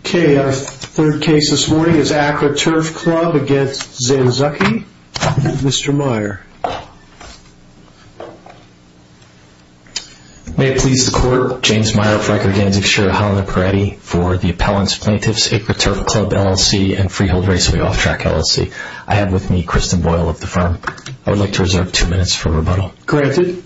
Okay, our third case this morning is Acra Turf Club against Zanzuccki. Mr. Meyer. May it please the court, James Meyer, Frank Organsic, Sheriff Holland and Peretti for the Appellants, Plaintiffs, Acra Turf Club, LLC, and Freehold Raceway Off-Track, LLC. I have with me Kristen Boyle of the firm. I would like to reserve two minutes for rebuttal. Granted.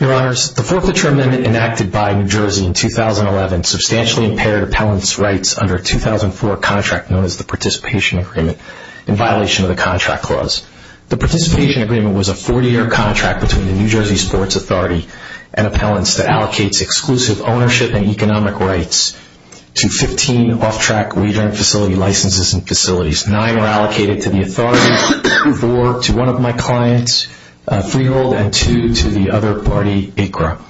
Your Honors, the Forfeiture Amendment enacted by New Jersey in 2011 substantially impaired appellants' rights under a 2004 contract known as the Participation Agreement in violation of the Contract Clause. The Participation Agreement was a 40-year contract between the New Jersey Sports Authority and Appellants that allocates exclusive ownership and economic rights to 15 off-track, wagering facility licenses and facilities. Nine are allocated to the Authority, four to one of my clients, Freehold, and two to the other party, Acra.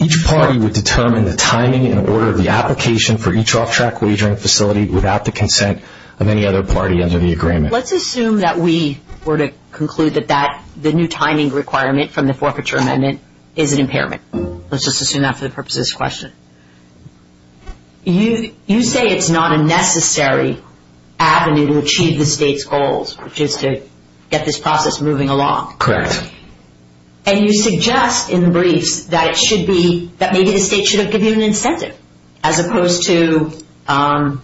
Each party would determine the timing and order of the application for each off-track wagering facility without the consent of any other party under the agreement. Let's assume that we were to conclude that the new timing requirement from the Forfeiture Amendment is an impairment. Let's just assume that for the purposes of this question. You say it's not a necessary avenue to achieve the state's goals, which is to get this process moving along. Correct. And you suggest in the briefs that maybe the state should have given you an incentive as opposed to a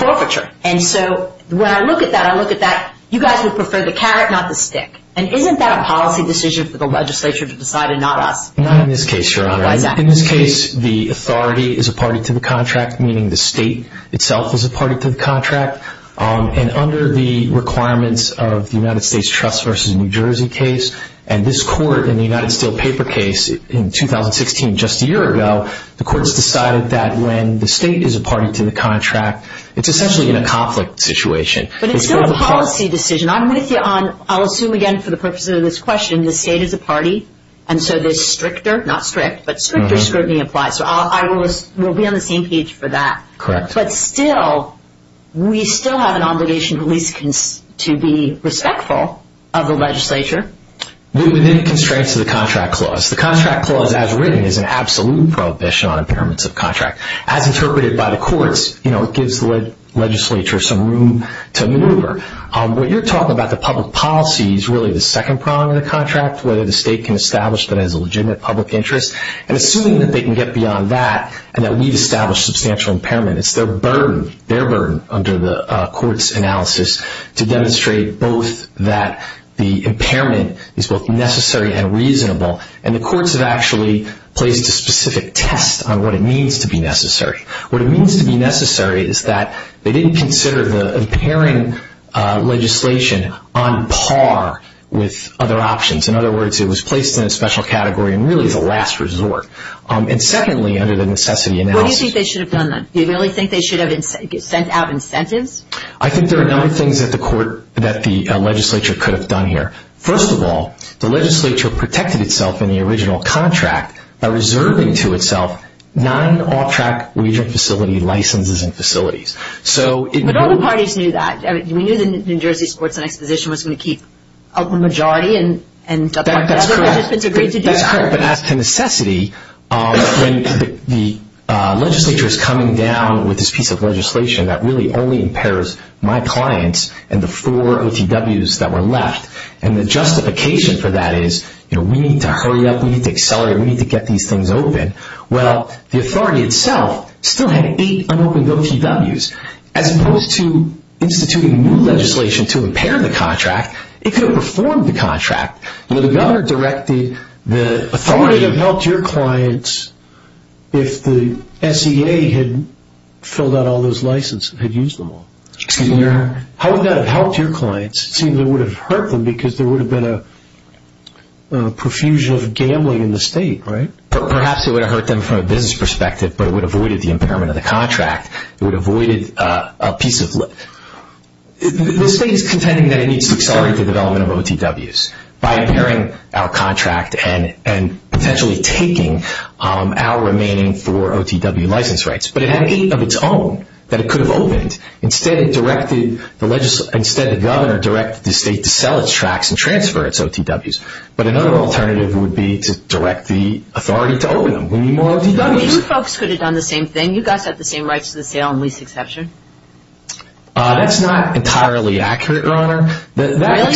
forfeiture. And so when I look at that, I look at that, you guys would prefer the carrot, not the stick. And isn't that a policy decision for the legislature to decide and not us? Not in this case, Your Honor. Why is that? In this case, the Authority is a party to the contract, meaning the state itself is a party to the contract. And under the requirements of the United States Trust v. New Jersey case and this court in the United Steel Paper case in 2016, just a year ago, the court has decided that when the state is a party to the contract, it's essentially in a conflict situation. But it's not a policy decision. I'm with you on, I'll assume again for the purposes of this question, the state is a party. And so the stricter, not strict, but stricter scrutiny applies. So we'll be on the same page for that. Correct. But still, we still have an obligation at least to be respectful of the legislature. Within constraints of the contract clause. The contract clause as written is an absolute prohibition on impairments of contract. As interpreted by the courts, you know, it gives the legislature some room to maneuver. What you're talking about, the public policy, is really the second prong of the contract, whether the state can establish that as a legitimate public interest. And assuming that they can get beyond that and that we've established substantial impairment, it's their burden, their burden under the court's analysis to demonstrate both that the impairment is both necessary and reasonable. And the courts have actually placed a specific test on what it means to be necessary. What it means to be necessary is that they didn't consider the impairing legislation on par with other options. In other words, it was placed in a special category and really is a last resort. And secondly, under the necessity analysis. What do you think they should have done then? Do you really think they should have sent out incentives? I think there are a number of things that the legislature could have done here. First of all, the legislature protected itself in the original contract by reserving to itself nine off-track wagering facility licenses and facilities. But other parties knew that. We knew the New Jersey Sports and Exposition was going to keep a majority and other participants agreed to do that. That's correct, but as to necessity, when the legislature is coming down with this piece of legislation that really only impairs my clients and the four OTWs that were left, and the justification for that is we need to hurry up, we need to accelerate, we need to get these things open. Well, the authority itself still had eight unopened OTWs. As opposed to instituting new legislation to impair the contract, it could have performed the contract. The governor directed the authority... How would it have helped your clients if the SEA had filled out all those licenses and had used them all? Excuse me? How would that have helped your clients? It seems it would have hurt them because there would have been a profusion of gambling in the state, right? Perhaps it would have hurt them from a business perspective, but it would have avoided the impairment of the contract. It would have avoided a piece of... The state is contending that it needs to accelerate the development of OTWs by impairing our contract and potentially taking our remaining four OTW license rights. But it had eight of its own that it could have opened. Instead, the governor directed the state to sell its tracts and transfer its OTWs. But another alternative would be to direct the authority to open them. We need more OTWs. You folks could have done the same thing. You guys have the same rights to the sale and lease exception. That's not entirely accurate, Your Honor. The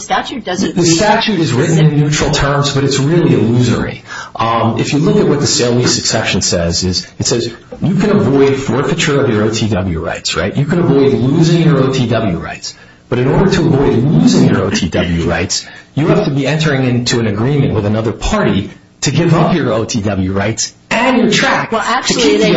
statute doesn't... The statute is written in neutral terms, but it's really illusory. If you look at what the sale and lease exception says, it says you can avoid forfeiture of your OTW rights, right? You can avoid losing your OTW rights. But in order to avoid losing your OTW rights, you have to be entering into an agreement with another party to give up your OTW rights and your tracts to take the OTW. Well,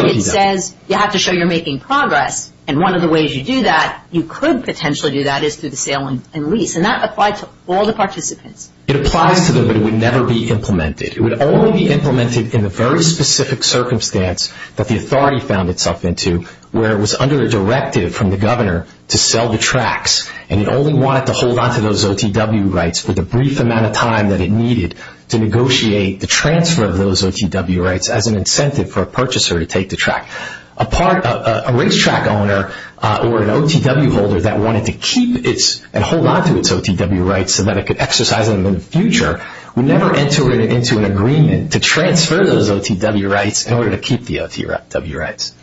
actually, it says you have to show you're making progress. And one of the ways you do that, you could potentially do that, is through the sale and lease. And that applies to all the participants. It applies to them, but it would never be implemented. It would only be implemented in the very specific circumstance that the authority found itself into where it was under a directive from the governor to sell the tracts, and it only wanted to hold on to those OTW rights for the brief amount of time that it needed to negotiate the transfer of those OTW rights as an incentive for a purchaser to take the tract. A racetrack owner or an OTW holder that wanted to keep and hold on to its OTW rights so that it could exercise them in the future would never enter into an agreement to transfer those OTW rights in order to keep the OTW rights.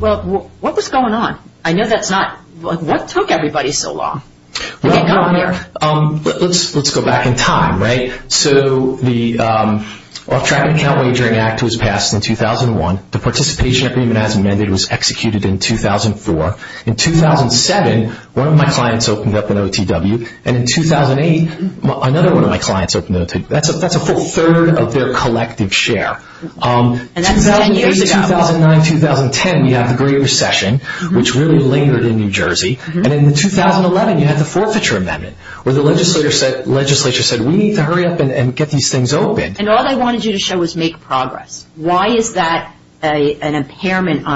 Well, what was going on? I know that's not – what took everybody so long? Well, let's go back in time, right? So the Off-Tracking Account Wagering Act was passed in 2001. The participation agreement as amended was executed in 2004. In 2007, one of my clients opened up an OTW. And in 2008, another one of my clients opened an OTW. That's a full third of their collective share. And that's 10 years ago. 2003, 2009, 2010, you had the Great Recession, which really lingered in New Jersey. And in 2011, you had the Forfeiture Amendment, where the legislature said, we need to hurry up and get these things open. And all they wanted you to show was make progress. Why is that an impairment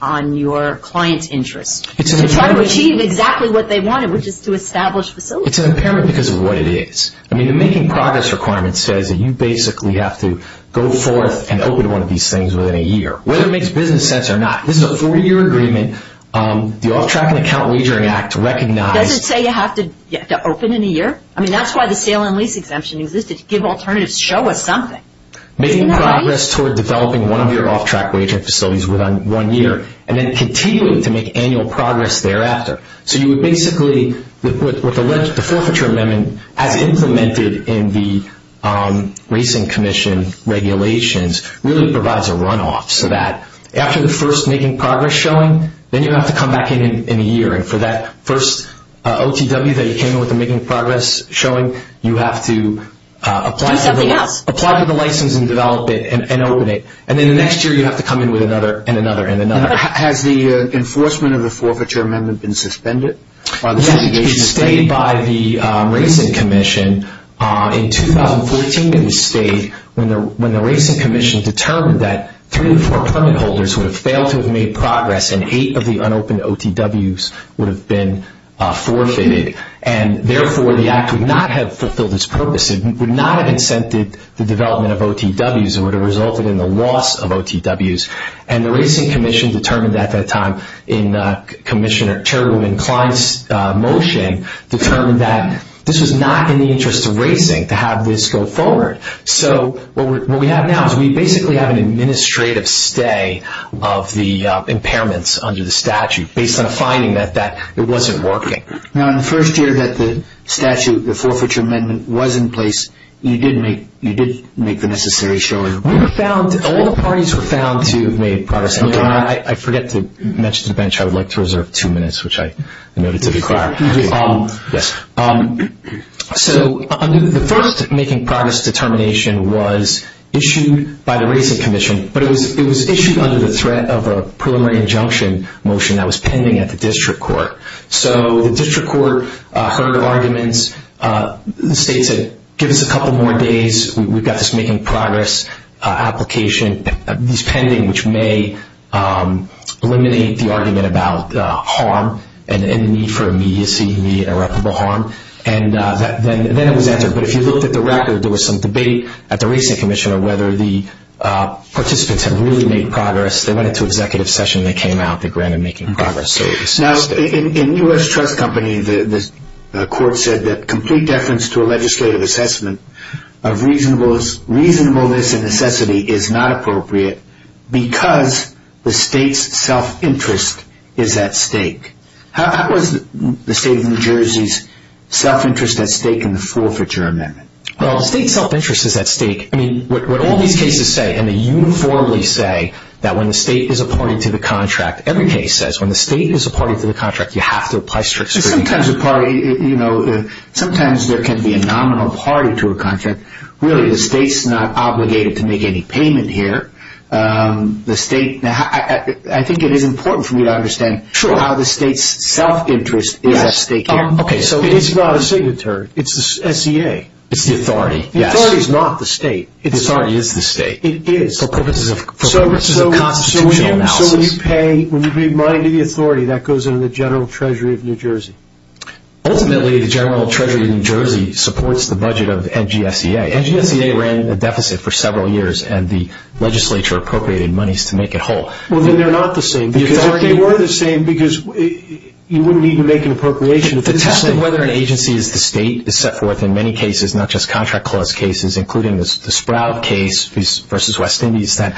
on your client's interest? To try to achieve exactly what they wanted, which is to establish facilities. It's an impairment because of what it is. I mean, the making progress requirement says that you basically have to go forth and open one of these things within a year, whether it makes business sense or not. This is a 40-year agreement. The Off-Tracking Account Wagering Act recognized – Does it say you have to open in a year? I mean, that's why the sale and lease exemption existed. Give alternatives. Show us something. Making progress toward developing one of your off-track wagering facilities within one year and then continuing to make annual progress thereafter. So you would basically – the Forfeiture Amendment, as implemented in the Racing Commission regulations, really provides a runoff, so that after the first making progress showing, then you have to come back in in a year. And for that first OTW that you came in with the making progress showing, you have to apply for the license and develop it and open it. And then the next year, you have to come in with another and another and another. Has the enforcement of the Forfeiture Amendment been suspended? Yes, it stayed by the Racing Commission. In 2014, it stayed when the Racing Commission determined that three of the four permit holders would have failed to have made progress and eight of the unopened OTWs would have been forfeited. And therefore, the Act would not have fulfilled its purpose. It would not have incented the development of OTWs. It would have resulted in the loss of OTWs. And the Racing Commission determined at that time, in Commissioner Chairwoman Klein's motion, determined that this was not in the interest of racing to have this go forward. So what we have now is we basically have an administrative stay of the impairments under the statute based on a finding that it wasn't working. Now, in the first year that the statute, the Forfeiture Amendment, was in place, you did make the necessary showing. All the parties were found to have made progress. I forget to mention to the bench I would like to reserve two minutes, which I noted to be required. So the first making progress determination was issued by the Racing Commission, but it was issued under the threat of a preliminary injunction motion that was pending at the district court. So the district court heard of arguments, the state said, give us a couple more days, we've got this making progress application that's pending, which may eliminate the argument about harm and the need for immediacy, immediate irreparable harm. And then it was answered. But if you looked at the record, there was some debate at the Racing Commission on whether the participants had really made progress. They went into executive session and they came out. They granted making progress. Now, in U.S. Trust Company, the court said that complete deference to a legislative assessment of reasonableness and necessity is not appropriate because the state's self-interest is at stake. How is the state of New Jersey's self-interest at stake in the forfeiture amendment? Well, the state's self-interest is at stake. I mean, what all these cases say, and they uniformly say that when the state is a party to the contract, every case says when the state is a party to the contract, you have to apply strict scrutiny. Sometimes a party, you know, sometimes there can be a nominal party to a contract. Really, the state's not obligated to make any payment here. I think it is important for me to understand how the state's self-interest is at stake here. Okay, so it is not a signatory. It's the SEA. It's the authority. The authority is not the state. The authority is the state. It is. For purposes of constitutional analysis. So when you pay, when you give money to the authority, that goes into the general treasury of New Jersey. Ultimately, the general treasury of New Jersey supports the budget of NGSEA. NGSEA ran a deficit for several years, and the legislature appropriated monies to make it whole. Well, then they're not the same. Because if they were the same, because you wouldn't need to make an appropriation. The test of whether an agency is the state is set forth in many cases, not just contract clause cases, including the Sprout case versus West Indies that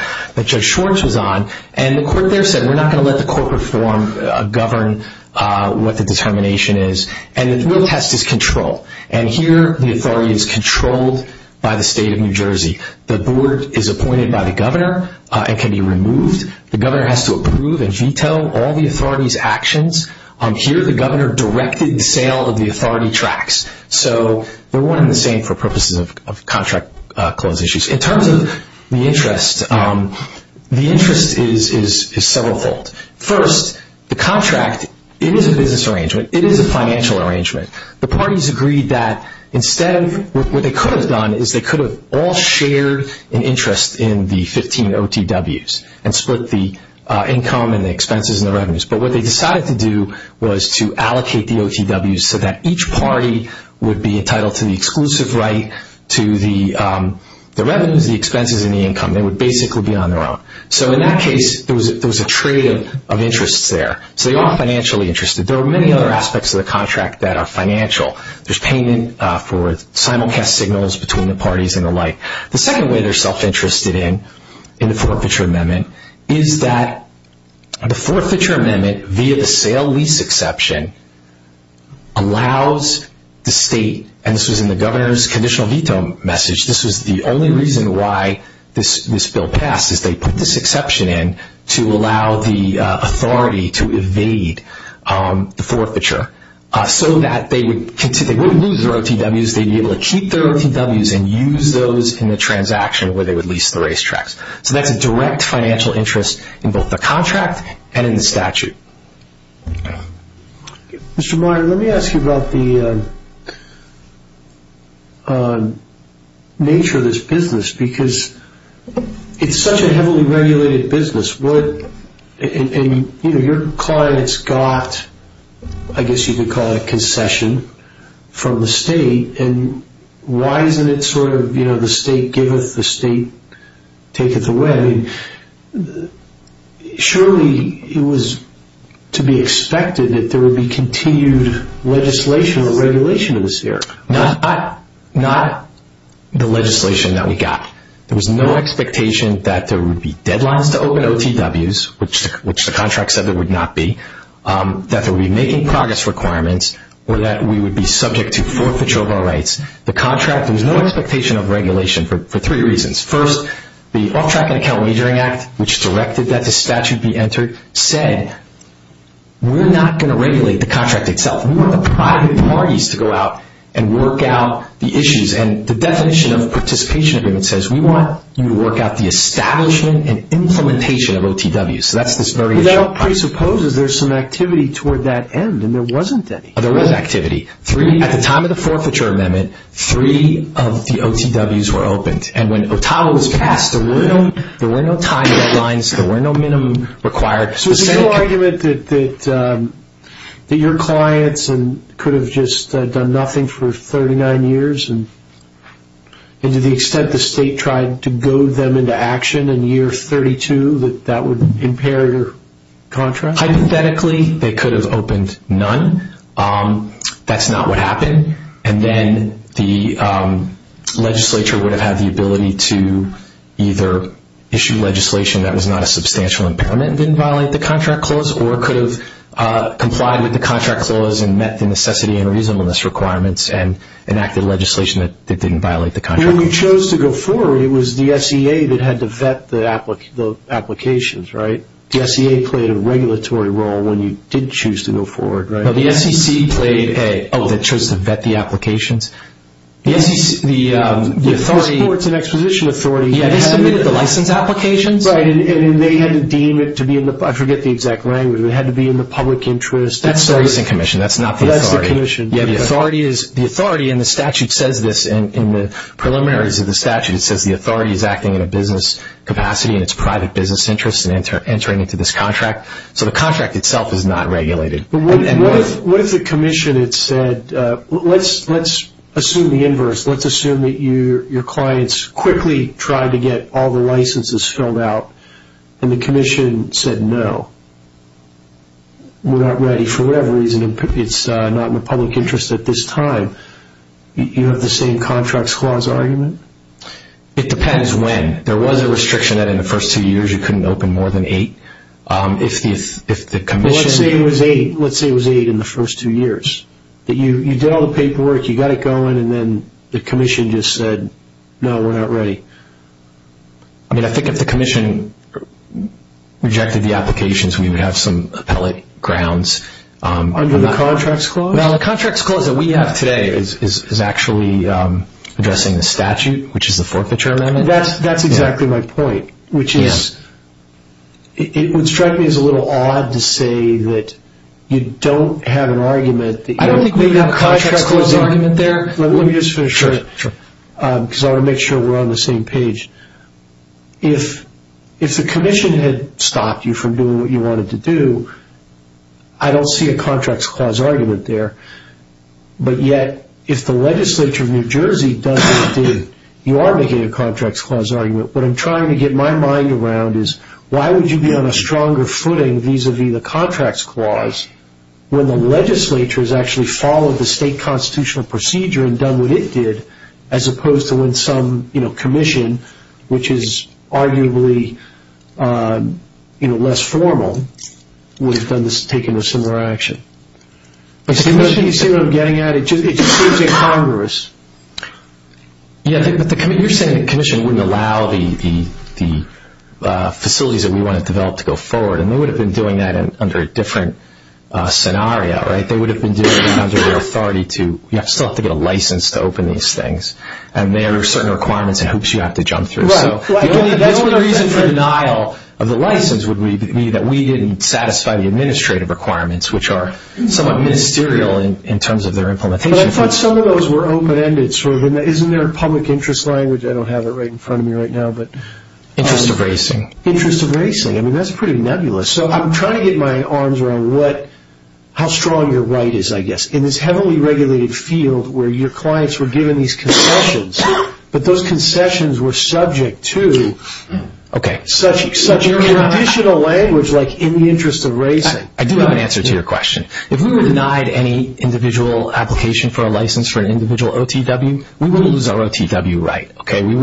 Judge Schwartz was on. And the court there said, we're not going to let the corporate form govern what the determination is. And the real test is control. And here, the authority is controlled by the state of New Jersey. The board is appointed by the governor and can be removed. The governor has to approve and veto all the authority's actions. Here, the governor directed the sale of the authority tracts. So they're one and the same for purposes of contract clause issues. In terms of the interest, the interest is several-fold. First, the contract, it is a business arrangement. It is a financial arrangement. The parties agreed that instead of what they could have done is they could have all shared an interest in the 15 OTWs and split the income and the expenses and the revenues. But what they decided to do was to allocate the OTWs so that each party would be entitled to the exclusive right to the revenues, the expenses, and the income. They would basically be on their own. So in that case, there was a trade of interests there. So they are financially interested. There are many other aspects of the contract that are financial. There's payment for simulcast signals between the parties and the like. The second way they're self-interested in, in the forfeiture amendment, is that the forfeiture amendment via the sale-lease exception allows the state, and this was in the governor's conditional veto message, this was the only reason why this bill passed is they put this exception in to allow the authority to evade the forfeiture so that they wouldn't lose their OTWs. They'd be able to keep their OTWs and use those in the transaction where they would lease the racetracks. So that's a direct financial interest in both the contract and in the statute. Mr. Meyer, let me ask you about the nature of this business because it's such a heavily regulated business. Your clients got, I guess you could call it a concession from the state, and why isn't it sort of the state giveth, the state taketh away? Surely it was to be expected that there would be continued legislation or regulation in this area. Not the legislation that we got. There was no expectation that there would be deadlines to open OTWs, which the contract said there would not be, that there would be making progress requirements, or that we would be subject to forfeiture of our rights. The contract, there was no expectation of regulation for three reasons. First, the Off-Tracking Account Measuring Act, which directed that the statute be entered, said we're not going to regulate the contract itself. And the definition of participation agreement says we want you to work out the establishment and implementation of OTWs. So that's this variation. But that presupposes there's some activity toward that end, and there wasn't any. There was activity. At the time of the forfeiture amendment, three of the OTWs were opened. And when OTAWA was passed, there were no time deadlines, there were no minimum required. So is there no argument that your clients could have just done nothing for 39 years, and to the extent the state tried to goad them into action in year 32, that that would impair your contract? Hypothetically, they could have opened none. That's not what happened. And then the legislature would have had the ability to either issue legislation that was not a substantial impairment and didn't violate the contract clause, or could have complied with the contract clause and met the necessity and reasonableness requirements and enacted legislation that didn't violate the contract clause. When you chose to go forward, it was the SEA that had to vet the applications, right? The SEA played a regulatory role when you did choose to go forward, right? No, the SEC played a role. Oh, that chose to vet the applications? Yes. The Sports and Exposition Authority had submitted the license applications. Right. And they had to deem it to be in the – I forget the exact language. It had to be in the public interest. That's the Racing Commission. That's not the authority. That's the commission. Yes, the authority, and the statute says this in the preliminaries of the statute, it says the authority is acting in a business capacity and it's private business interest in entering into this contract. So the contract itself is not regulated. What if the commission had said, let's assume the inverse. Let's assume that your clients quickly tried to get all the licenses filled out and the commission said no, we're not ready for whatever reason. It's not in the public interest at this time. You have the same contracts clause argument? It depends when. There was a restriction that in the first two years you couldn't open more than eight. Well, let's say it was eight in the first two years, that you did all the paperwork, you got it going, and then the commission just said, no, we're not ready. I mean, I think if the commission rejected the applications, we would have some appellate grounds. Under the contracts clause? No, the contracts clause that we have today is actually addressing the statute, which is the forfeiture amendment. That's exactly my point, which is it would strike me as a little odd to say that you don't have an argument. I don't think we have a contracts clause argument there. Let me just finish. Sure. Because I want to make sure we're on the same page. If the commission had stopped you from doing what you wanted to do, I don't see a contracts clause argument there. But yet, if the legislature of New Jersey does what it did, you are making a contracts clause argument. What I'm trying to get my mind around is, why would you be on a stronger footing vis-à-vis the contracts clause when the legislature has actually followed the state constitutional procedure and done what it did as opposed to when some commission, which is arguably less formal, would have taken a similar action. You see what I'm getting at? It just seems incongruous. You're saying the commission wouldn't allow the facilities that we want to develop to go forward, and they would have been doing that under a different scenario, right? They would have been doing it under the authority to, you still have to get a license to open these things, and there are certain requirements and hoops you have to jump through. Right. The only reason for denial of the license would be that we didn't satisfy the administrative requirements, which are somewhat ministerial in terms of their implementation. But I thought some of those were open-ended. Isn't there a public interest language? I don't have it right in front of me right now. Interest of racing. Interest of racing. I mean, that's pretty nebulous. So I'm trying to get my arms around how strong your right is, I guess, in this heavily regulated field where your clients were given these concessions, but those concessions were subject to such traditional language like in the interest of racing. I do have an answer to your question. If we were denied any individual application for a license for an individual OTW, we would lose our OTW right, okay? We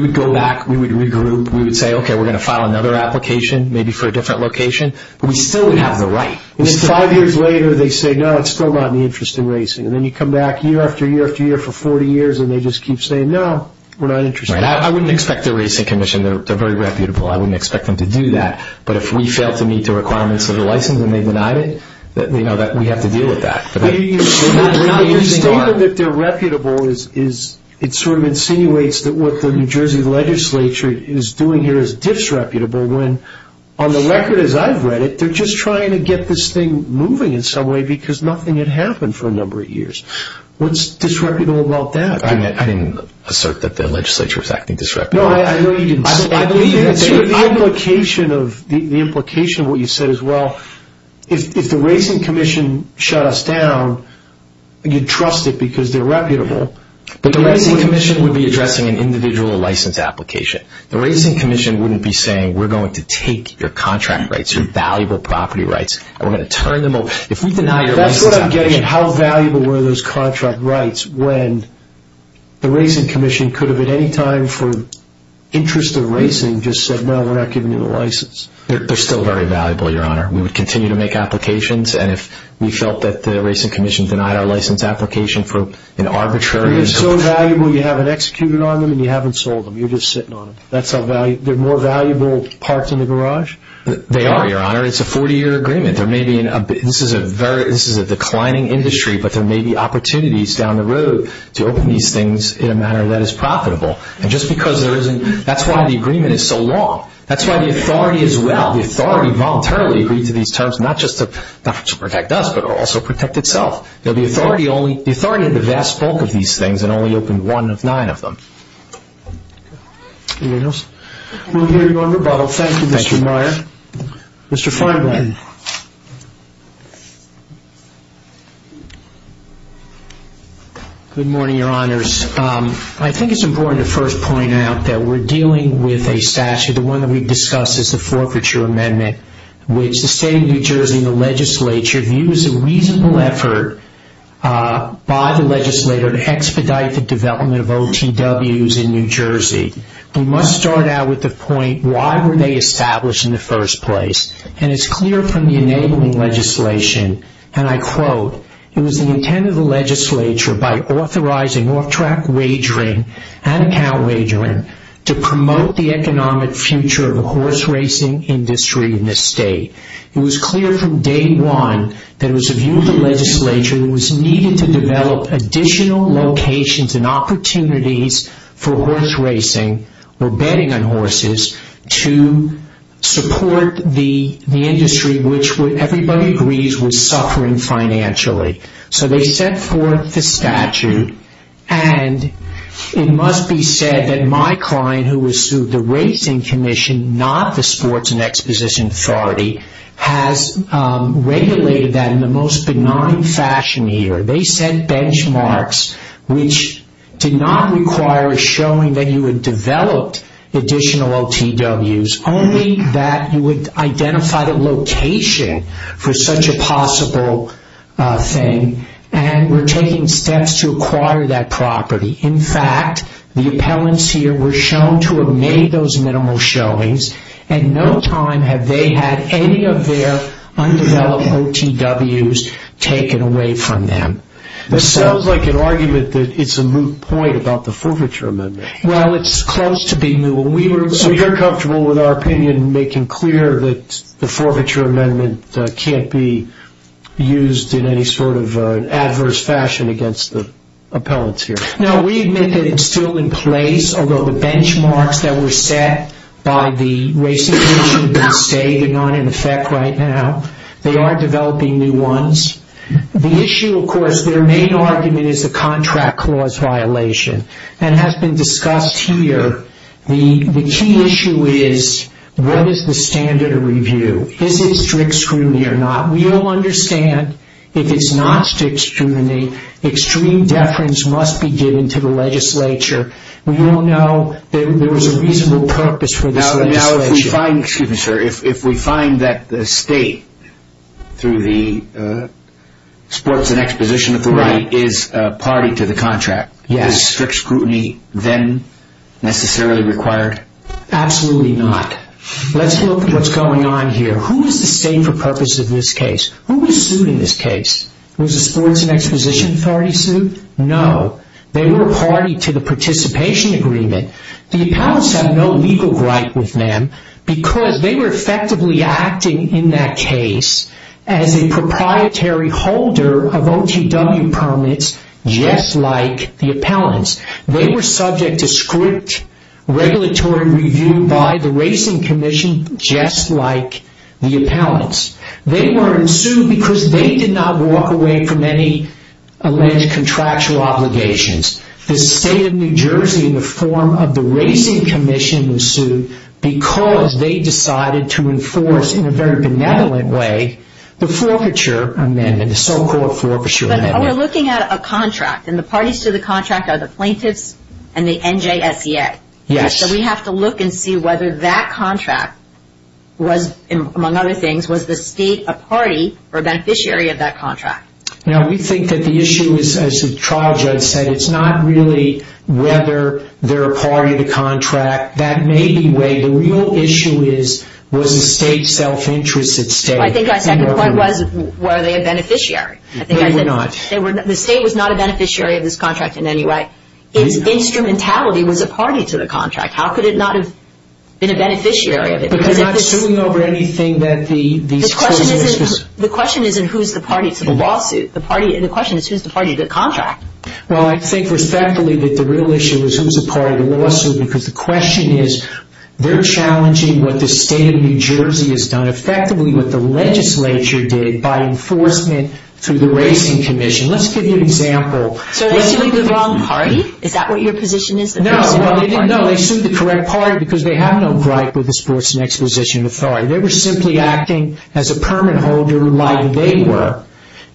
would go back, we would regroup, we would say, okay, we're going to file another application, maybe for a different location, but we still would have the right. And then five years later, they say, no, it's still not in the interest of racing. And then you come back year after year after year for 40 years, and they just keep saying, no, we're not interested. Right. I wouldn't expect a racing commission. They're very reputable. I wouldn't expect them to do that. But if we fail to meet the requirements of the license and they deny it, we have to deal with that. The statement that they're reputable, it sort of insinuates that what the New Jersey legislature is doing here is disreputable when on the record as I've read it, they're just trying to get this thing moving in some way because nothing had happened for a number of years. What's disreputable about that? I didn't assert that the legislature was acting disreputably. No, I know you didn't. The implication of what you said is, well, if the racing commission shut us down, you'd trust it because they're reputable. But the racing commission would be addressing an individual license application. The racing commission wouldn't be saying, we're going to take your contract rights, your valuable property rights, and we're going to turn them over. That's what I'm getting at, how valuable were those contract rights when the racing commission could have at any time for interest of racing just said, no, we're not giving you the license. They're still very valuable, Your Honor. We would continue to make applications, and if we felt that the racing commission denied our license application for an arbitrary reason. They're so valuable you haven't executed on them and you haven't sold them. You're just sitting on them. They're more valuable parked in the garage? They are, Your Honor. It's a 40-year agreement. This is a declining industry, but there may be opportunities down the road to open these things in a manner that is profitable. And just because there isn't, that's why the agreement is so long. That's why the authority as well, the authority voluntarily agreed to these terms, not just to protect us, but also protect itself. The authority had the vast bulk of these things and only opened one of nine of them. Anything else? We'll hear you on rebuttal. Thank you, Mr. Meyer. Mr. Feinblatt. Good morning, Your Honors. I think it's important to first point out that we're dealing with a statute. The one that we've discussed is the Forfeiture Amendment, which the state of New Jersey and the legislature view as a reasonable effort by the legislator to expedite the development of OTWs in New Jersey. We must start out with the point, why were they established in the first place? And it's clear from the enabling legislation, and I quote, it was the intent of the legislature by authorizing off-track wagering and cow wagering to promote the economic future of the horse racing industry in this state. It was clear from day one that it was the view of the legislature that it was needed to develop additional locations and opportunities for horse racing or betting on horses to support the industry, which everybody agrees was suffering financially. So they set forth the statute, and it must be said that my client, who was sued the Racing Commission, not the Sports and Exposition Authority, has regulated that in the most benign fashion here. They set benchmarks which did not require a showing that you had developed additional OTWs, only that you would identify the location for such a possible thing, and were taking steps to acquire that property. In fact, the appellants here were shown to have made those minimal showings, and no time have they had any of their undeveloped OTWs taken away from them. This sounds like an argument that it's a moot point about the Forfeiture Amendment. Well, it's close to being moot. So you're comfortable with our opinion making clear that the Forfeiture Amendment can't be used in any sort of adverse fashion against the appellants here? No, we admit that it's still in place, although the benchmarks that were set by the Racing Commission say they're not in effect right now. They are developing new ones. The issue, of course, their main argument is the Contract Clause violation, and has been discussed here. The key issue is, what is the standard of review? Is it strict scrutiny or not? We all understand, if it's not strict scrutiny, extreme deference must be given to the legislature. We all know there is a reasonable purpose for this legislature. Now, if we find that the state, through the Sports and Exposition Authority, is party to the contract, is strict scrutiny then necessarily required? Absolutely not. Let's look at what's going on here. Who is the state for purpose of this case? Who was sued in this case? Was the Sports and Exposition Authority sued? No. They were party to the participation agreement. The appellants have no legal right with them, because they were effectively acting in that case as a proprietary holder of OTW permits, just like the appellants. They were subject to strict regulatory review by the Racing Commission, just like the appellants. They were sued because they did not walk away from any alleged contractual obligations. The state of New Jersey, in the form of the Racing Commission, was sued because they decided to enforce, in a very benevolent way, the Forfeiture Amendment, the so-called Forfeiture Amendment. We're looking at a contract, and the parties to the contract are the plaintiffs and the NJSEA. Yes. So we have to look and see whether that contract was, among other things, was the state a party or a beneficiary of that contract? Now, we think that the issue is, as the trial judge said, it's not really whether they're a party to the contract. That may be where the real issue is, was the state self-interested? I think my second point was, were they a beneficiary? No, they were not. The state was not a beneficiary of this contract in any way. Its instrumentality was a party to the contract. How could it not have been a beneficiary of it? But they're not suing over anything that these claimants were suing? The question isn't who's the party to the lawsuit. The question is, who's the party to the contract? Well, I think, respectfully, that the real issue is, who's the party to the lawsuit? Because the question is, they're challenging what the state of New Jersey has done, and effectively what the legislature did by enforcement through the Racing Commission. Let's give you an example. So they're suing the wrong party? Is that what your position is? No. Well, they didn't know. They sued the correct party because they have no gripe with the Sports and Exposition Authority. They were simply acting as a permit holder like they were.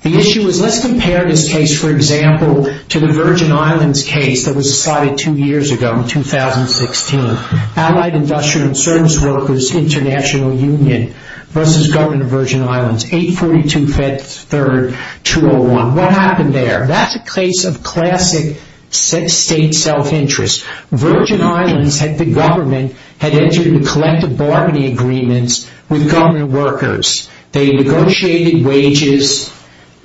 The issue is, let's compare this case, for example, to the Virgin Islands case that was decided two years ago in 2016. Allied Industrial Service Workers International Union v. Government of Virgin Islands, 8-42-3-201. What happened there? That's a case of classic state self-interest. Virgin Islands, the government, had entered into collective bargaining agreements with government workers. They negotiated wages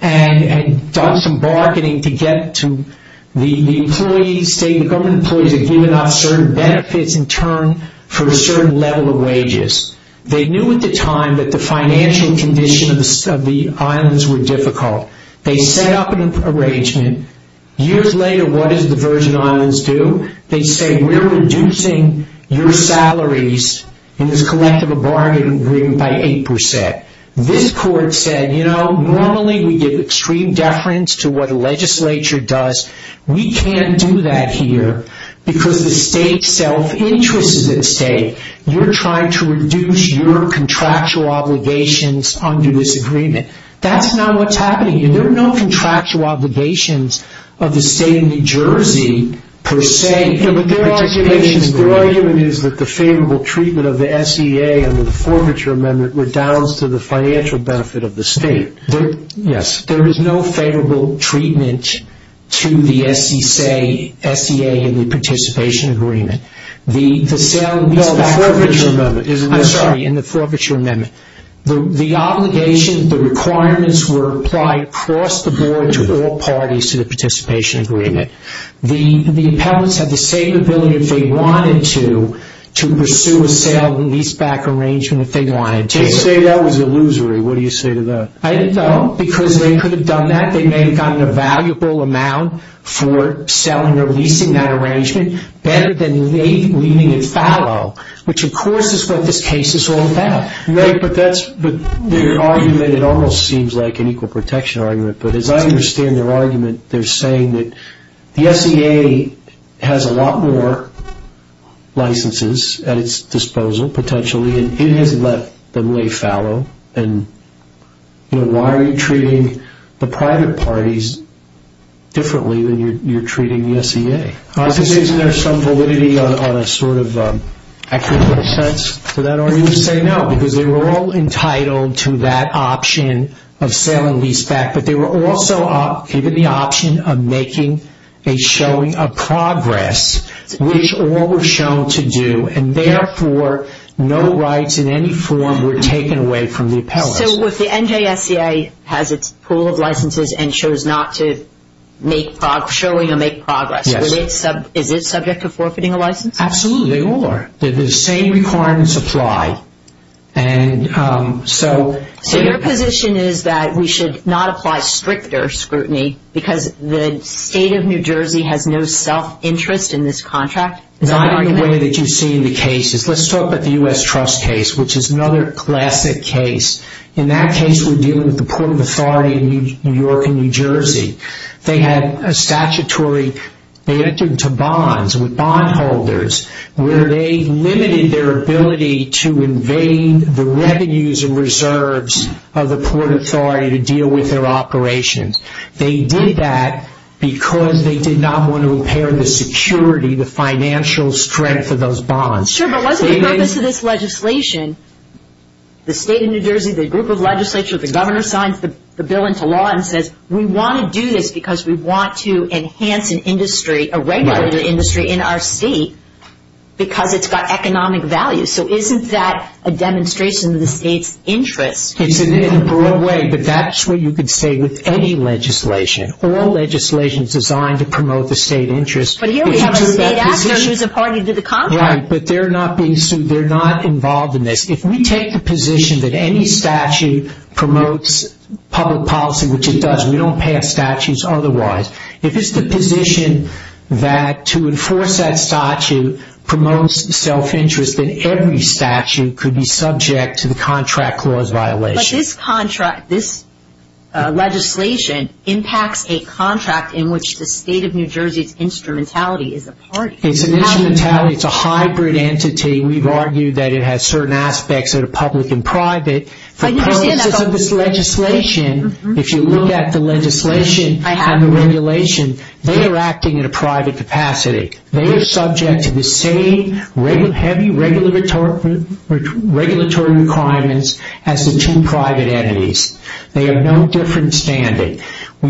and done some bargaining to get to the employees. They stated the government employees had given up certain benefits in turn for a certain level of wages. They knew at the time that the financial conditions of the islands were difficult. They set up an arrangement. Years later, what did the Virgin Islands do? They said, we're reducing your salaries in this collective bargaining agreement by 8%. This court said, you know, normally we give extreme deference to what the legislature does. We can't do that here because the state self-interest is at stake. You're trying to reduce your contractual obligations under this agreement. That's not what's happening. There are no contractual obligations of the state of New Jersey, per se. But their argument is that the favorable treatment of the SEA and the forfeiture amendment redounds to the financial benefit of the state. Yes. There is no favorable treatment to the SEA in the participation agreement. No, the forfeiture amendment is illusory. I'm sorry. In the forfeiture amendment. The obligation, the requirements were applied across the board to all parties to the participation agreement. The appellants had the same ability, if they wanted to, to pursue a sale and lease-back arrangement if they wanted to. They say that was illusory. What do you say to that? I don't know, because they could have done that. They may have gotten a valuable amount for selling or leasing that arrangement, better than leaving it fallow, which of course is what this case is all about. Right, but their argument, it almost seems like an equal protection argument, but as I understand their argument, they're saying that the SEA has a lot more licenses at its disposal, potentially, and it has let them lay fallow, and why are you treating the private parties differently than you're treating the SEA? Is there some validity on a sort of accurate sense to that argument? I would say no, because they were all entitled to that option of sale and lease-back, but they were also given the option of making a showing of progress, which all were shown to do, and therefore, no rights in any form were taken away from the appellants. So if the NJSEA has its pool of licenses and chose not to make showing or make progress, is it subject to forfeiting a license? Absolutely, they all are. The same requirements apply. So your position is that we should not apply stricter scrutiny, because the state of New Jersey has no self-interest in this contract? Not in the way that you see in the cases. Let's talk about the U.S. Trust case, which is another classic case. In that case, we're dealing with the Port Authority of New York and New Jersey. They had a statutory, they entered into bonds with bondholders, where they limited their ability to invade the revenues and reserves of the Port Authority to deal with their operations. They did that because they did not want to impair the security, the financial strength of those bonds. Sure, but what's the purpose of this legislation? The state of New Jersey, the group of legislature, the governor signs the bill into law and says, we want to do this because we want to enhance an industry, a regulated industry in our state, because it's got economic value. So isn't that a demonstration of the state's interest? It's in a broad way, but that's what you could say with any legislation. All legislation is designed to promote the state interest. But here we have a state actor who's a party to the contract. Right, but they're not being sued. They're not involved in this. If we take the position that any statute promotes public policy, which it does. We don't pass statutes otherwise. If it's the position that to enforce that statute promotes self-interest, then every statute could be subject to the contract clause violation. But this legislation impacts a contract in which the state of New Jersey's instrumentality is a party. It's an instrumentality. It's a hybrid entity. We've argued that it has certain aspects that are public and private. For purposes of this legislation, if you look at the legislation and the regulation, they are acting in a private capacity. They are subject to the same heavy regulatory requirements as the two private entities. They have no different standing. Are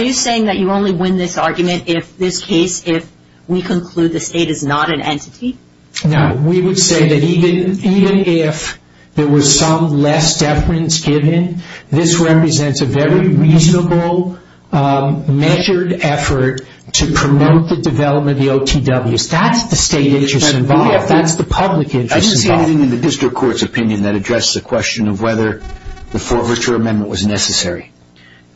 you saying that you only win this argument if we conclude the state is not an entity? No. We would say that even if there was some less deference given, this represents a very reasonable measured effort to promote the development of the OTWs. That's the state interest involved. That's the public interest involved. I didn't see anything in the district court's opinion that addressed the question of whether the forfeiture amendment was necessary.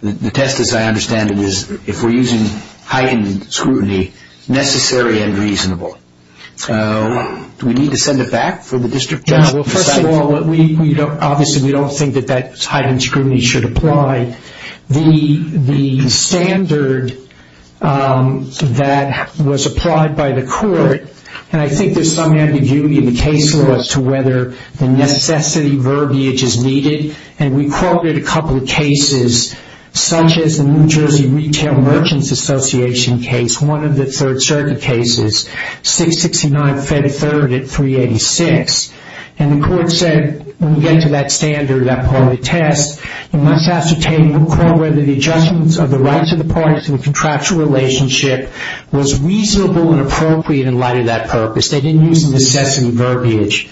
The test, as I understand it, is if we're using heightened scrutiny, necessary and reasonable. Do we need to send it back for the district judge to decide? Not at all. Obviously, we don't think that that heightened scrutiny should apply. The standard that was applied by the court, and I think there's some ambiguity in the case law as to whether the necessity verbiage is needed, and we quoted a couple of cases such as the New Jersey Retail Merchants Association case, one of the Third Circuit cases, 669-333 at 386. And the court said when we get to that standard, that part of the test, you must ascertain whether the adjustments of the rights of the parties in the contractual relationship was reasonable and appropriate in light of that purpose. They didn't use necessity verbiage.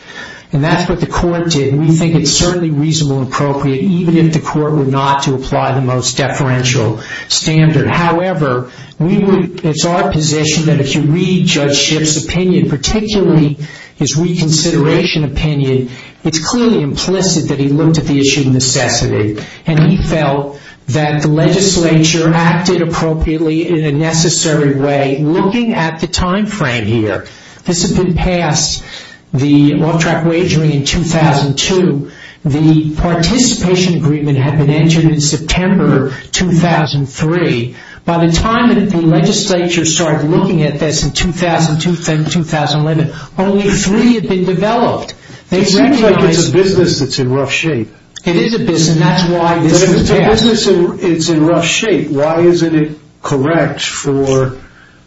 And that's what the court did, and we think it's certainly reasonable and appropriate, even if the court were not to apply the most deferential standard. However, it's our position that if you read Judge Shipp's opinion, particularly his reconsideration opinion, it's clearly implicit that he looked at the issue of necessity, and he felt that the legislature acted appropriately in a necessary way, looking at the time frame here. This had been passed, the off-track wagering in 2002. The participation agreement had been entered in September 2003. By the time that the legislature started looking at this in 2002 and 2011, only three had been developed. It seems like it's a business that's in rough shape. It is a business, and that's why this is passed. But if it's a business that's in rough shape, why isn't it correct for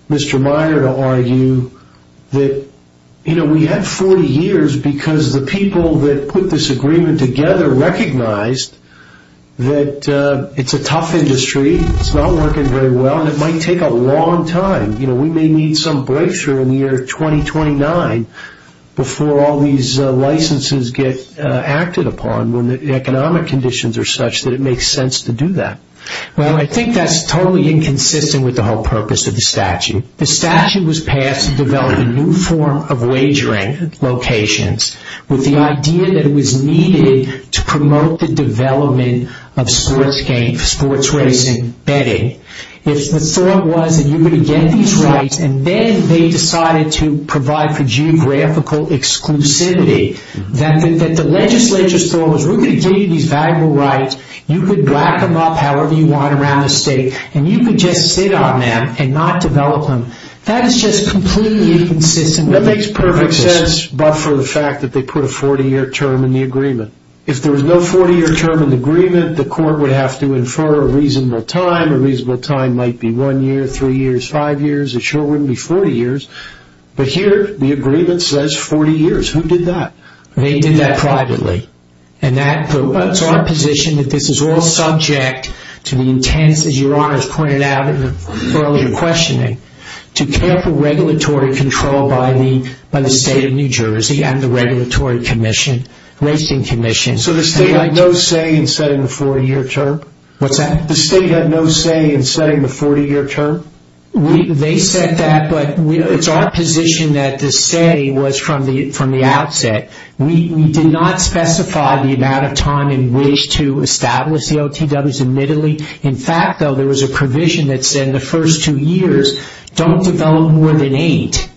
Mr. Minor to argue that, you know, we had 40 years because the people that put this agreement together recognized that it's a tough industry, it's not working very well, and it might take a long time. You know, we may need some breakthrough in the year 2029 before all these licenses get acted upon when the economic conditions are such that it makes sense to do that. Well, I think that's totally inconsistent with the whole purpose of the statute. The statute was passed to develop a new form of wagering locations with the idea that it was needed to promote the development of sports racing betting. If the thought was that you were going to get these rights and then they decided to provide for geographical exclusivity, that the legislature's thought was we're going to give you these valuable rights, you could rack them up however you want around the state, and you could just sit on them and not develop them. That is just completely inconsistent with the purpose. It makes sense, but for the fact that they put a 40-year term in the agreement. If there was no 40-year term in the agreement, the court would have to infer a reasonable time. A reasonable time might be one year, three years, five years. It sure wouldn't be 40 years. But here the agreement says 40 years. Who did that? They did that privately. And it's our position that this is all subject to the intense, as Your Honor has pointed out in the earlier questioning, to careful regulatory control by the state of New Jersey and the Regulatory Commission, Racing Commission. So the state had no say in setting the 40-year term? What's that? The state had no say in setting the 40-year term? They said that, but it's our position that the say was from the outset. We did not specify the amount of time in which to establish the OTWs, admittedly. In fact, though, there was a provision that said the first two years don't develop more than eight.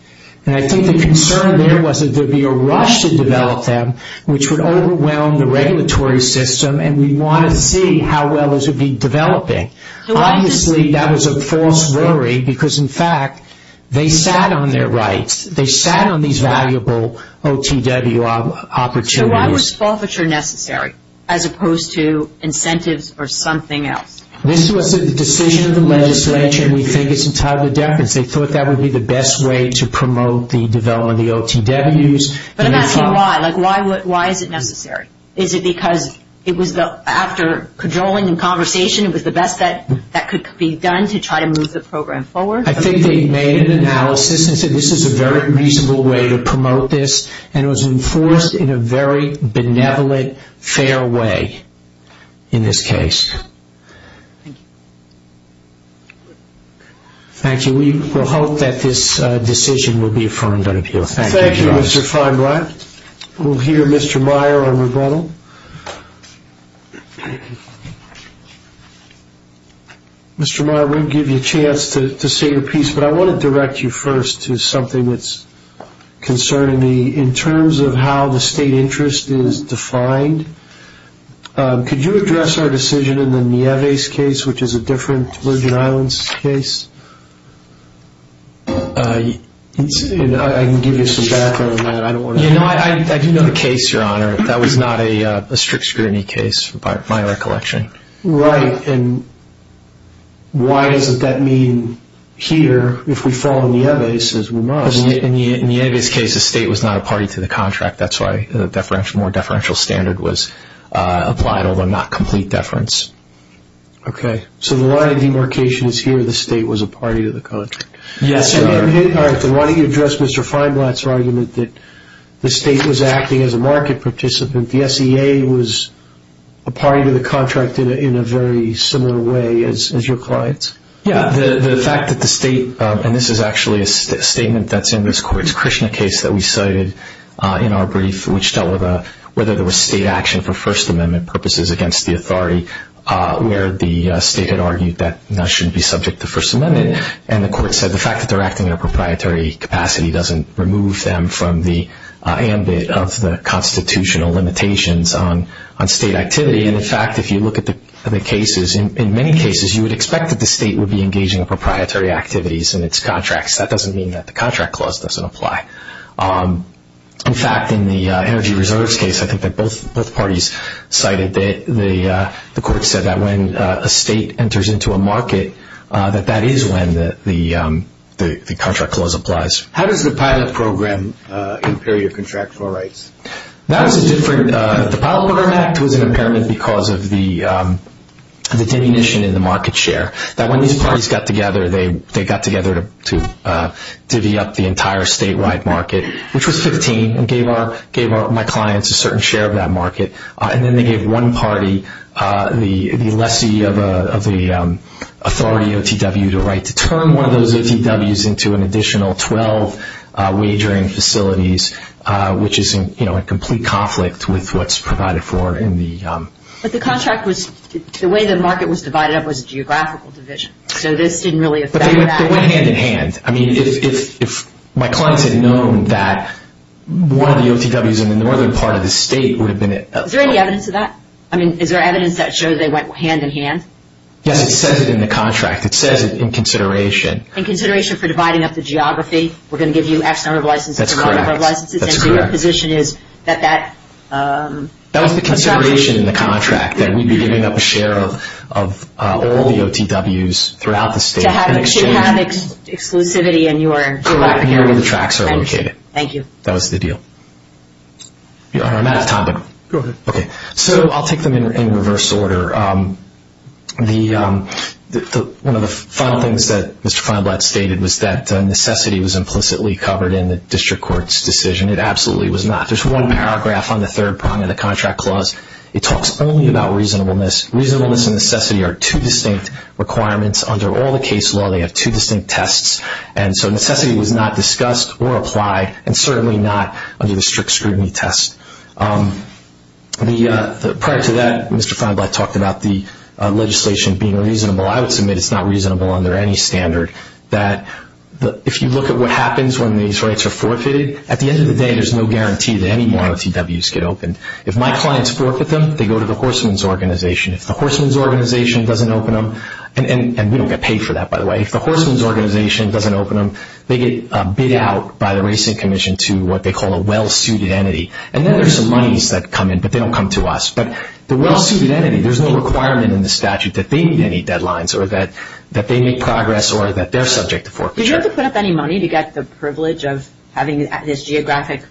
And I think the concern there was that there would be a rush to develop them, which would overwhelm the regulatory system, and we'd want to see how well those would be developing. Obviously, that was a false worry because, in fact, they sat on their rights. They sat on these valuable OTW opportunities. Why was forfeiture necessary as opposed to incentives or something else? This was a decision of the legislature, and we think it's entirely deference. They thought that would be the best way to promote the development of the OTWs. But I'm asking why. Like, why is it necessary? Is it because after cajoling and conversation, it was the best that could be done to try to move the program forward? I think they made an analysis and said this is a very reasonable way to promote this, and it was enforced in a very benevolent, fair way in this case. Thank you. We hope that this decision will be affirmed on appeal. Thank you. Thank you, Mr. Feinbrun. We'll hear Mr. Meyer on rebuttal. Mr. Meyer, we'll give you a chance to say your piece, but I want to direct you first to something that's concerning me. In terms of how the state interest is defined, could you address our decision in the Nieves case, which is a different Virgin Islands case? I can give you some background on that. I do know the case, Your Honor. That was not a strict scrutiny case by my recollection. Right. And why doesn't that mean here, if we follow Nieves, we must? In Nieves' case, the state was not a party to the contract. That's why a more deferential standard was applied, although not complete deference. Okay. So the line of demarcation is here the state was a party to the contract. Yes, Your Honor. All right. Then why don't you address Mr. Feinblatt's argument that the state was acting as a market participant, the SEA was a party to the contract in a very similar way as your clients? Yes. The fact that the state, and this is actually a statement that's in this court's Krishna case that we cited in our brief, which dealt with whether there was state action for First Amendment purposes against the authority, where the state had argued that that should be subject to First Amendment, and the court said the fact that they're acting in a proprietary capacity doesn't remove them from the ambit of the constitutional limitations on state activity. And, in fact, if you look at the cases, in many cases, you would expect that the state would be engaging in proprietary activities in its contracts. That doesn't mean that the contract clause doesn't apply. In fact, in the Energy Reserves case, I think that both parties cited that the court said that when a state enters into a market, that that is when the contract clause applies. How does the pilot program impair your contractual rights? The pilot program act was an impairment because of the diminution in the market share. When these parties got together, they got together to divvy up the entire statewide market, which was 15, and gave my clients a certain share of that market. And then they gave one party the lessee of the authority OTW to write to turn one of those OTWs into an additional 12 wagering facilities, which is in complete conflict with what's provided for in the contract. But the way the market was divided up was a geographical division, so this didn't really affect that. But they went hand-in-hand. I mean, if my clients had known that one of the OTWs in the northern part of the state would have been it. Is there any evidence of that? I mean, is there evidence that shows they went hand-in-hand? Yes, it says it in the contract. It says it in consideration. In consideration for dividing up the geography? We're going to give you X number of licenses and Y number of licenses? That's correct. And so your position is that that construction… That was the consideration in the contract, that we'd be giving up a share of all the OTWs throughout the state in exchange… You should have exclusivity in your geography. Correct. You know where the tracks are located. Thank you. That was the deal. Your Honor, I'm out of time, but… Go ahead. Okay. So I'll take them in reverse order. One of the final things that Mr. Feinblatt stated was that necessity was implicitly covered in the district court's decision. It absolutely was not. There's one paragraph on the third prong of the contract clause. It talks only about reasonableness. Reasonableness and necessity are two distinct requirements under all the case law. They have two distinct tests. And so necessity was not discussed or applied, and certainly not under the strict scrutiny test. Prior to that, Mr. Feinblatt talked about the legislation being reasonable. I would submit it's not reasonable under any standard, that if you look at what happens when these rights are forfeited, at the end of the day there's no guarantee that any more OTWs get opened. If my clients forfeit them, they go to the horseman's organization. If the horseman's organization doesn't open them, and we don't get paid for that, by the way, if the horseman's organization doesn't open them, they get bid out by the Racing Commission to what they call a well-suited entity. And then there's some monies that come in, but they don't come to us. But the well-suited entity, there's no requirement in the statute that they meet any deadlines or that they make progress or that they're subject to forfeiture. Did you have to put up any money to get the privilege of having this geographic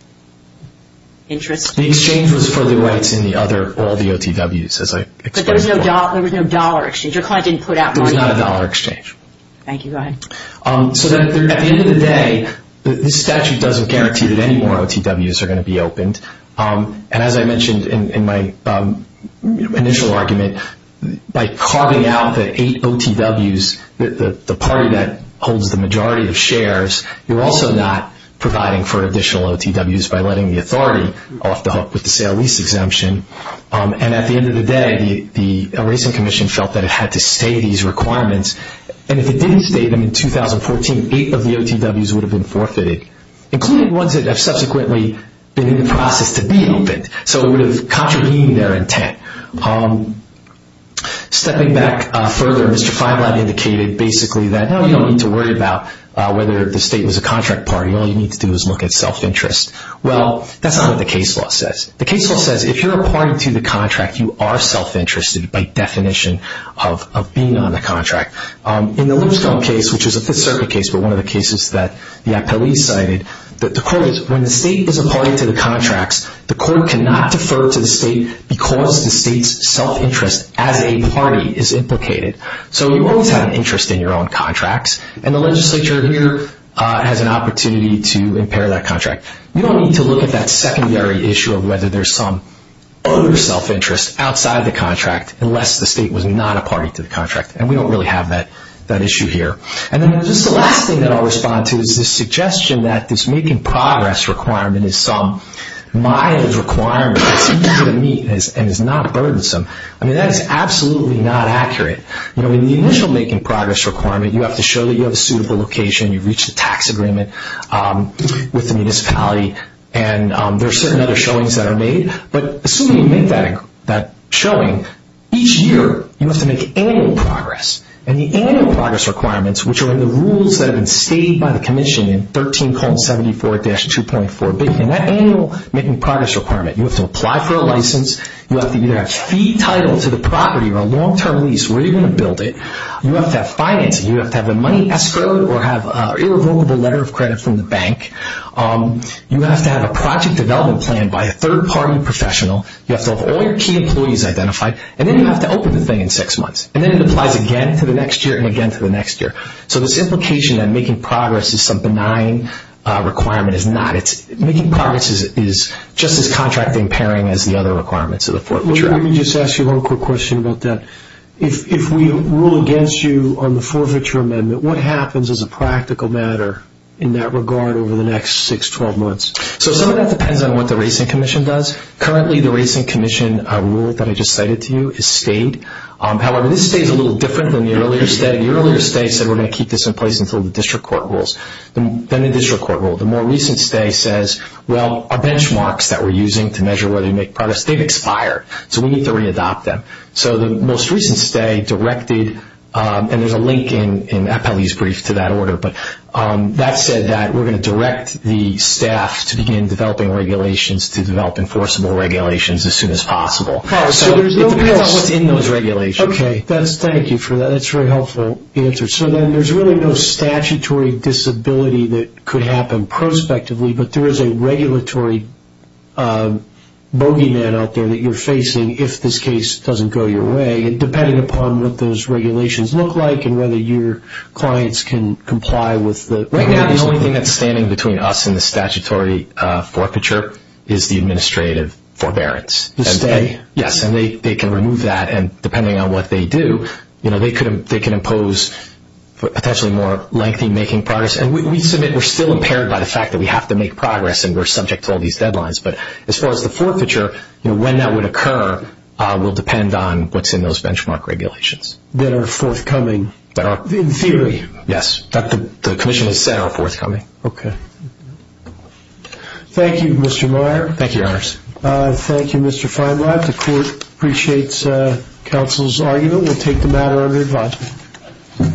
interest? The exchange was for the rights in all the OTWs, as I explained before. But there was no dollar exchange? Your client didn't put out money? There was not a dollar exchange. Thank you. Go ahead. So at the end of the day, this statute doesn't guarantee that any more OTWs are going to be opened. And as I mentioned in my initial argument, by carving out the eight OTWs, the party that holds the majority of shares, you're also not providing for additional OTWs by letting the authority off the hook with the sale-lease exemption. And at the end of the day, the Racing Commission felt that it had to stay these requirements. And if it didn't stay them in 2014, eight of the OTWs would have been forfeited, including ones that have subsequently been in the process to be opened. So it would have contravened their intent. Stepping back further, Mr. Feinlein indicated basically that, no, you don't need to worry about whether the state was a contract party. All you need to do is look at self-interest. Well, that's not what the case law says. The case law says if you're a party to the contract, you are self-interested by definition of being on the contract. In the Lipscomb case, which is a Fifth Circuit case, but one of the cases that the appellees cited, the court is, when the state is a party to the contracts, the court cannot defer to the state because the state's self-interest as a party is implicated. So you always have an interest in your own contracts. And the legislature here has an opportunity to impair that contract. You don't need to look at that secondary issue of whether there's some other self-interest outside the contract unless the state was not a party to the contract. And we don't really have that issue here. And then just the last thing that I'll respond to is the suggestion that this making progress requirement is some mild requirement that's easy to meet and is not burdensome. I mean, that is absolutely not accurate. You know, in the initial making progress requirement, you have to show that you have a suitable location, you've reached a tax agreement with the municipality, and there are certain other showings that are made. But assuming you make that showing, each year you have to make annual progress. And the annual progress requirements, which are in the rules that have been stated by the commission in 13.74-2.4B, in that annual making progress requirement, you have to apply for a license, you have to either have a fee title to the property or a long-term lease where you're going to build it. You have to have financing. You have to have the money escrowed or have an irrevocable letter of credit from the bank. You have to have a project development plan by a third-party professional. You have to have all your key employees identified. And then you have to open the thing in six months. And then it applies again to the next year and again to the next year. So this implication that making progress is some benign requirement is not. Making progress is just as contract-impairing as the other requirements of the Fort Betrayal. Let me just ask you one quick question about that. If we rule against you on the Forfeiture Amendment, what happens as a practical matter in that regard over the next 6-12 months? So some of that depends on what the Racing Commission does. Currently, the Racing Commission rule that I just cited to you is stayed. However, this stays a little different than the earlier stay. The earlier stay said we're going to keep this in place until the district court rules. Then the district court ruled. The more recent stay says, well, our benchmarks that we're using to measure whether we make progress, they've expired, so we need to re-adopt them. So the most recent stay directed, and there's a link in Appellee's Brief to that order, but that said that we're going to direct the staff to begin developing regulations to develop enforceable regulations as soon as possible. So it depends on what's in those regulations. Okay, thank you for that. That's a very helpful answer. So then there's really no statutory disability that could happen prospectively, but there is a regulatory bogeyman out there that you're facing if this case doesn't go your way, depending upon what those regulations look like and whether your clients can comply with the regulations. Right now, the only thing that's standing between us and the statutory forfeiture is the administrative forbearance. The stay? Yes, and they can remove that, and depending on what they do, they can impose potentially more lengthy making progress. And we submit we're still impaired by the fact that we have to make progress and we're subject to all these deadlines. But as far as the forfeiture, you know, when that would occur will depend on what's in those benchmark regulations. That are forthcoming in theory. Yes, that the commission has said are forthcoming. Okay. Thank you, Mr. Meyer. Thank you, Your Honors. Thank you, Mr. Feinblatt. The Court appreciates counsel's argument. We'll take the matter under advisement.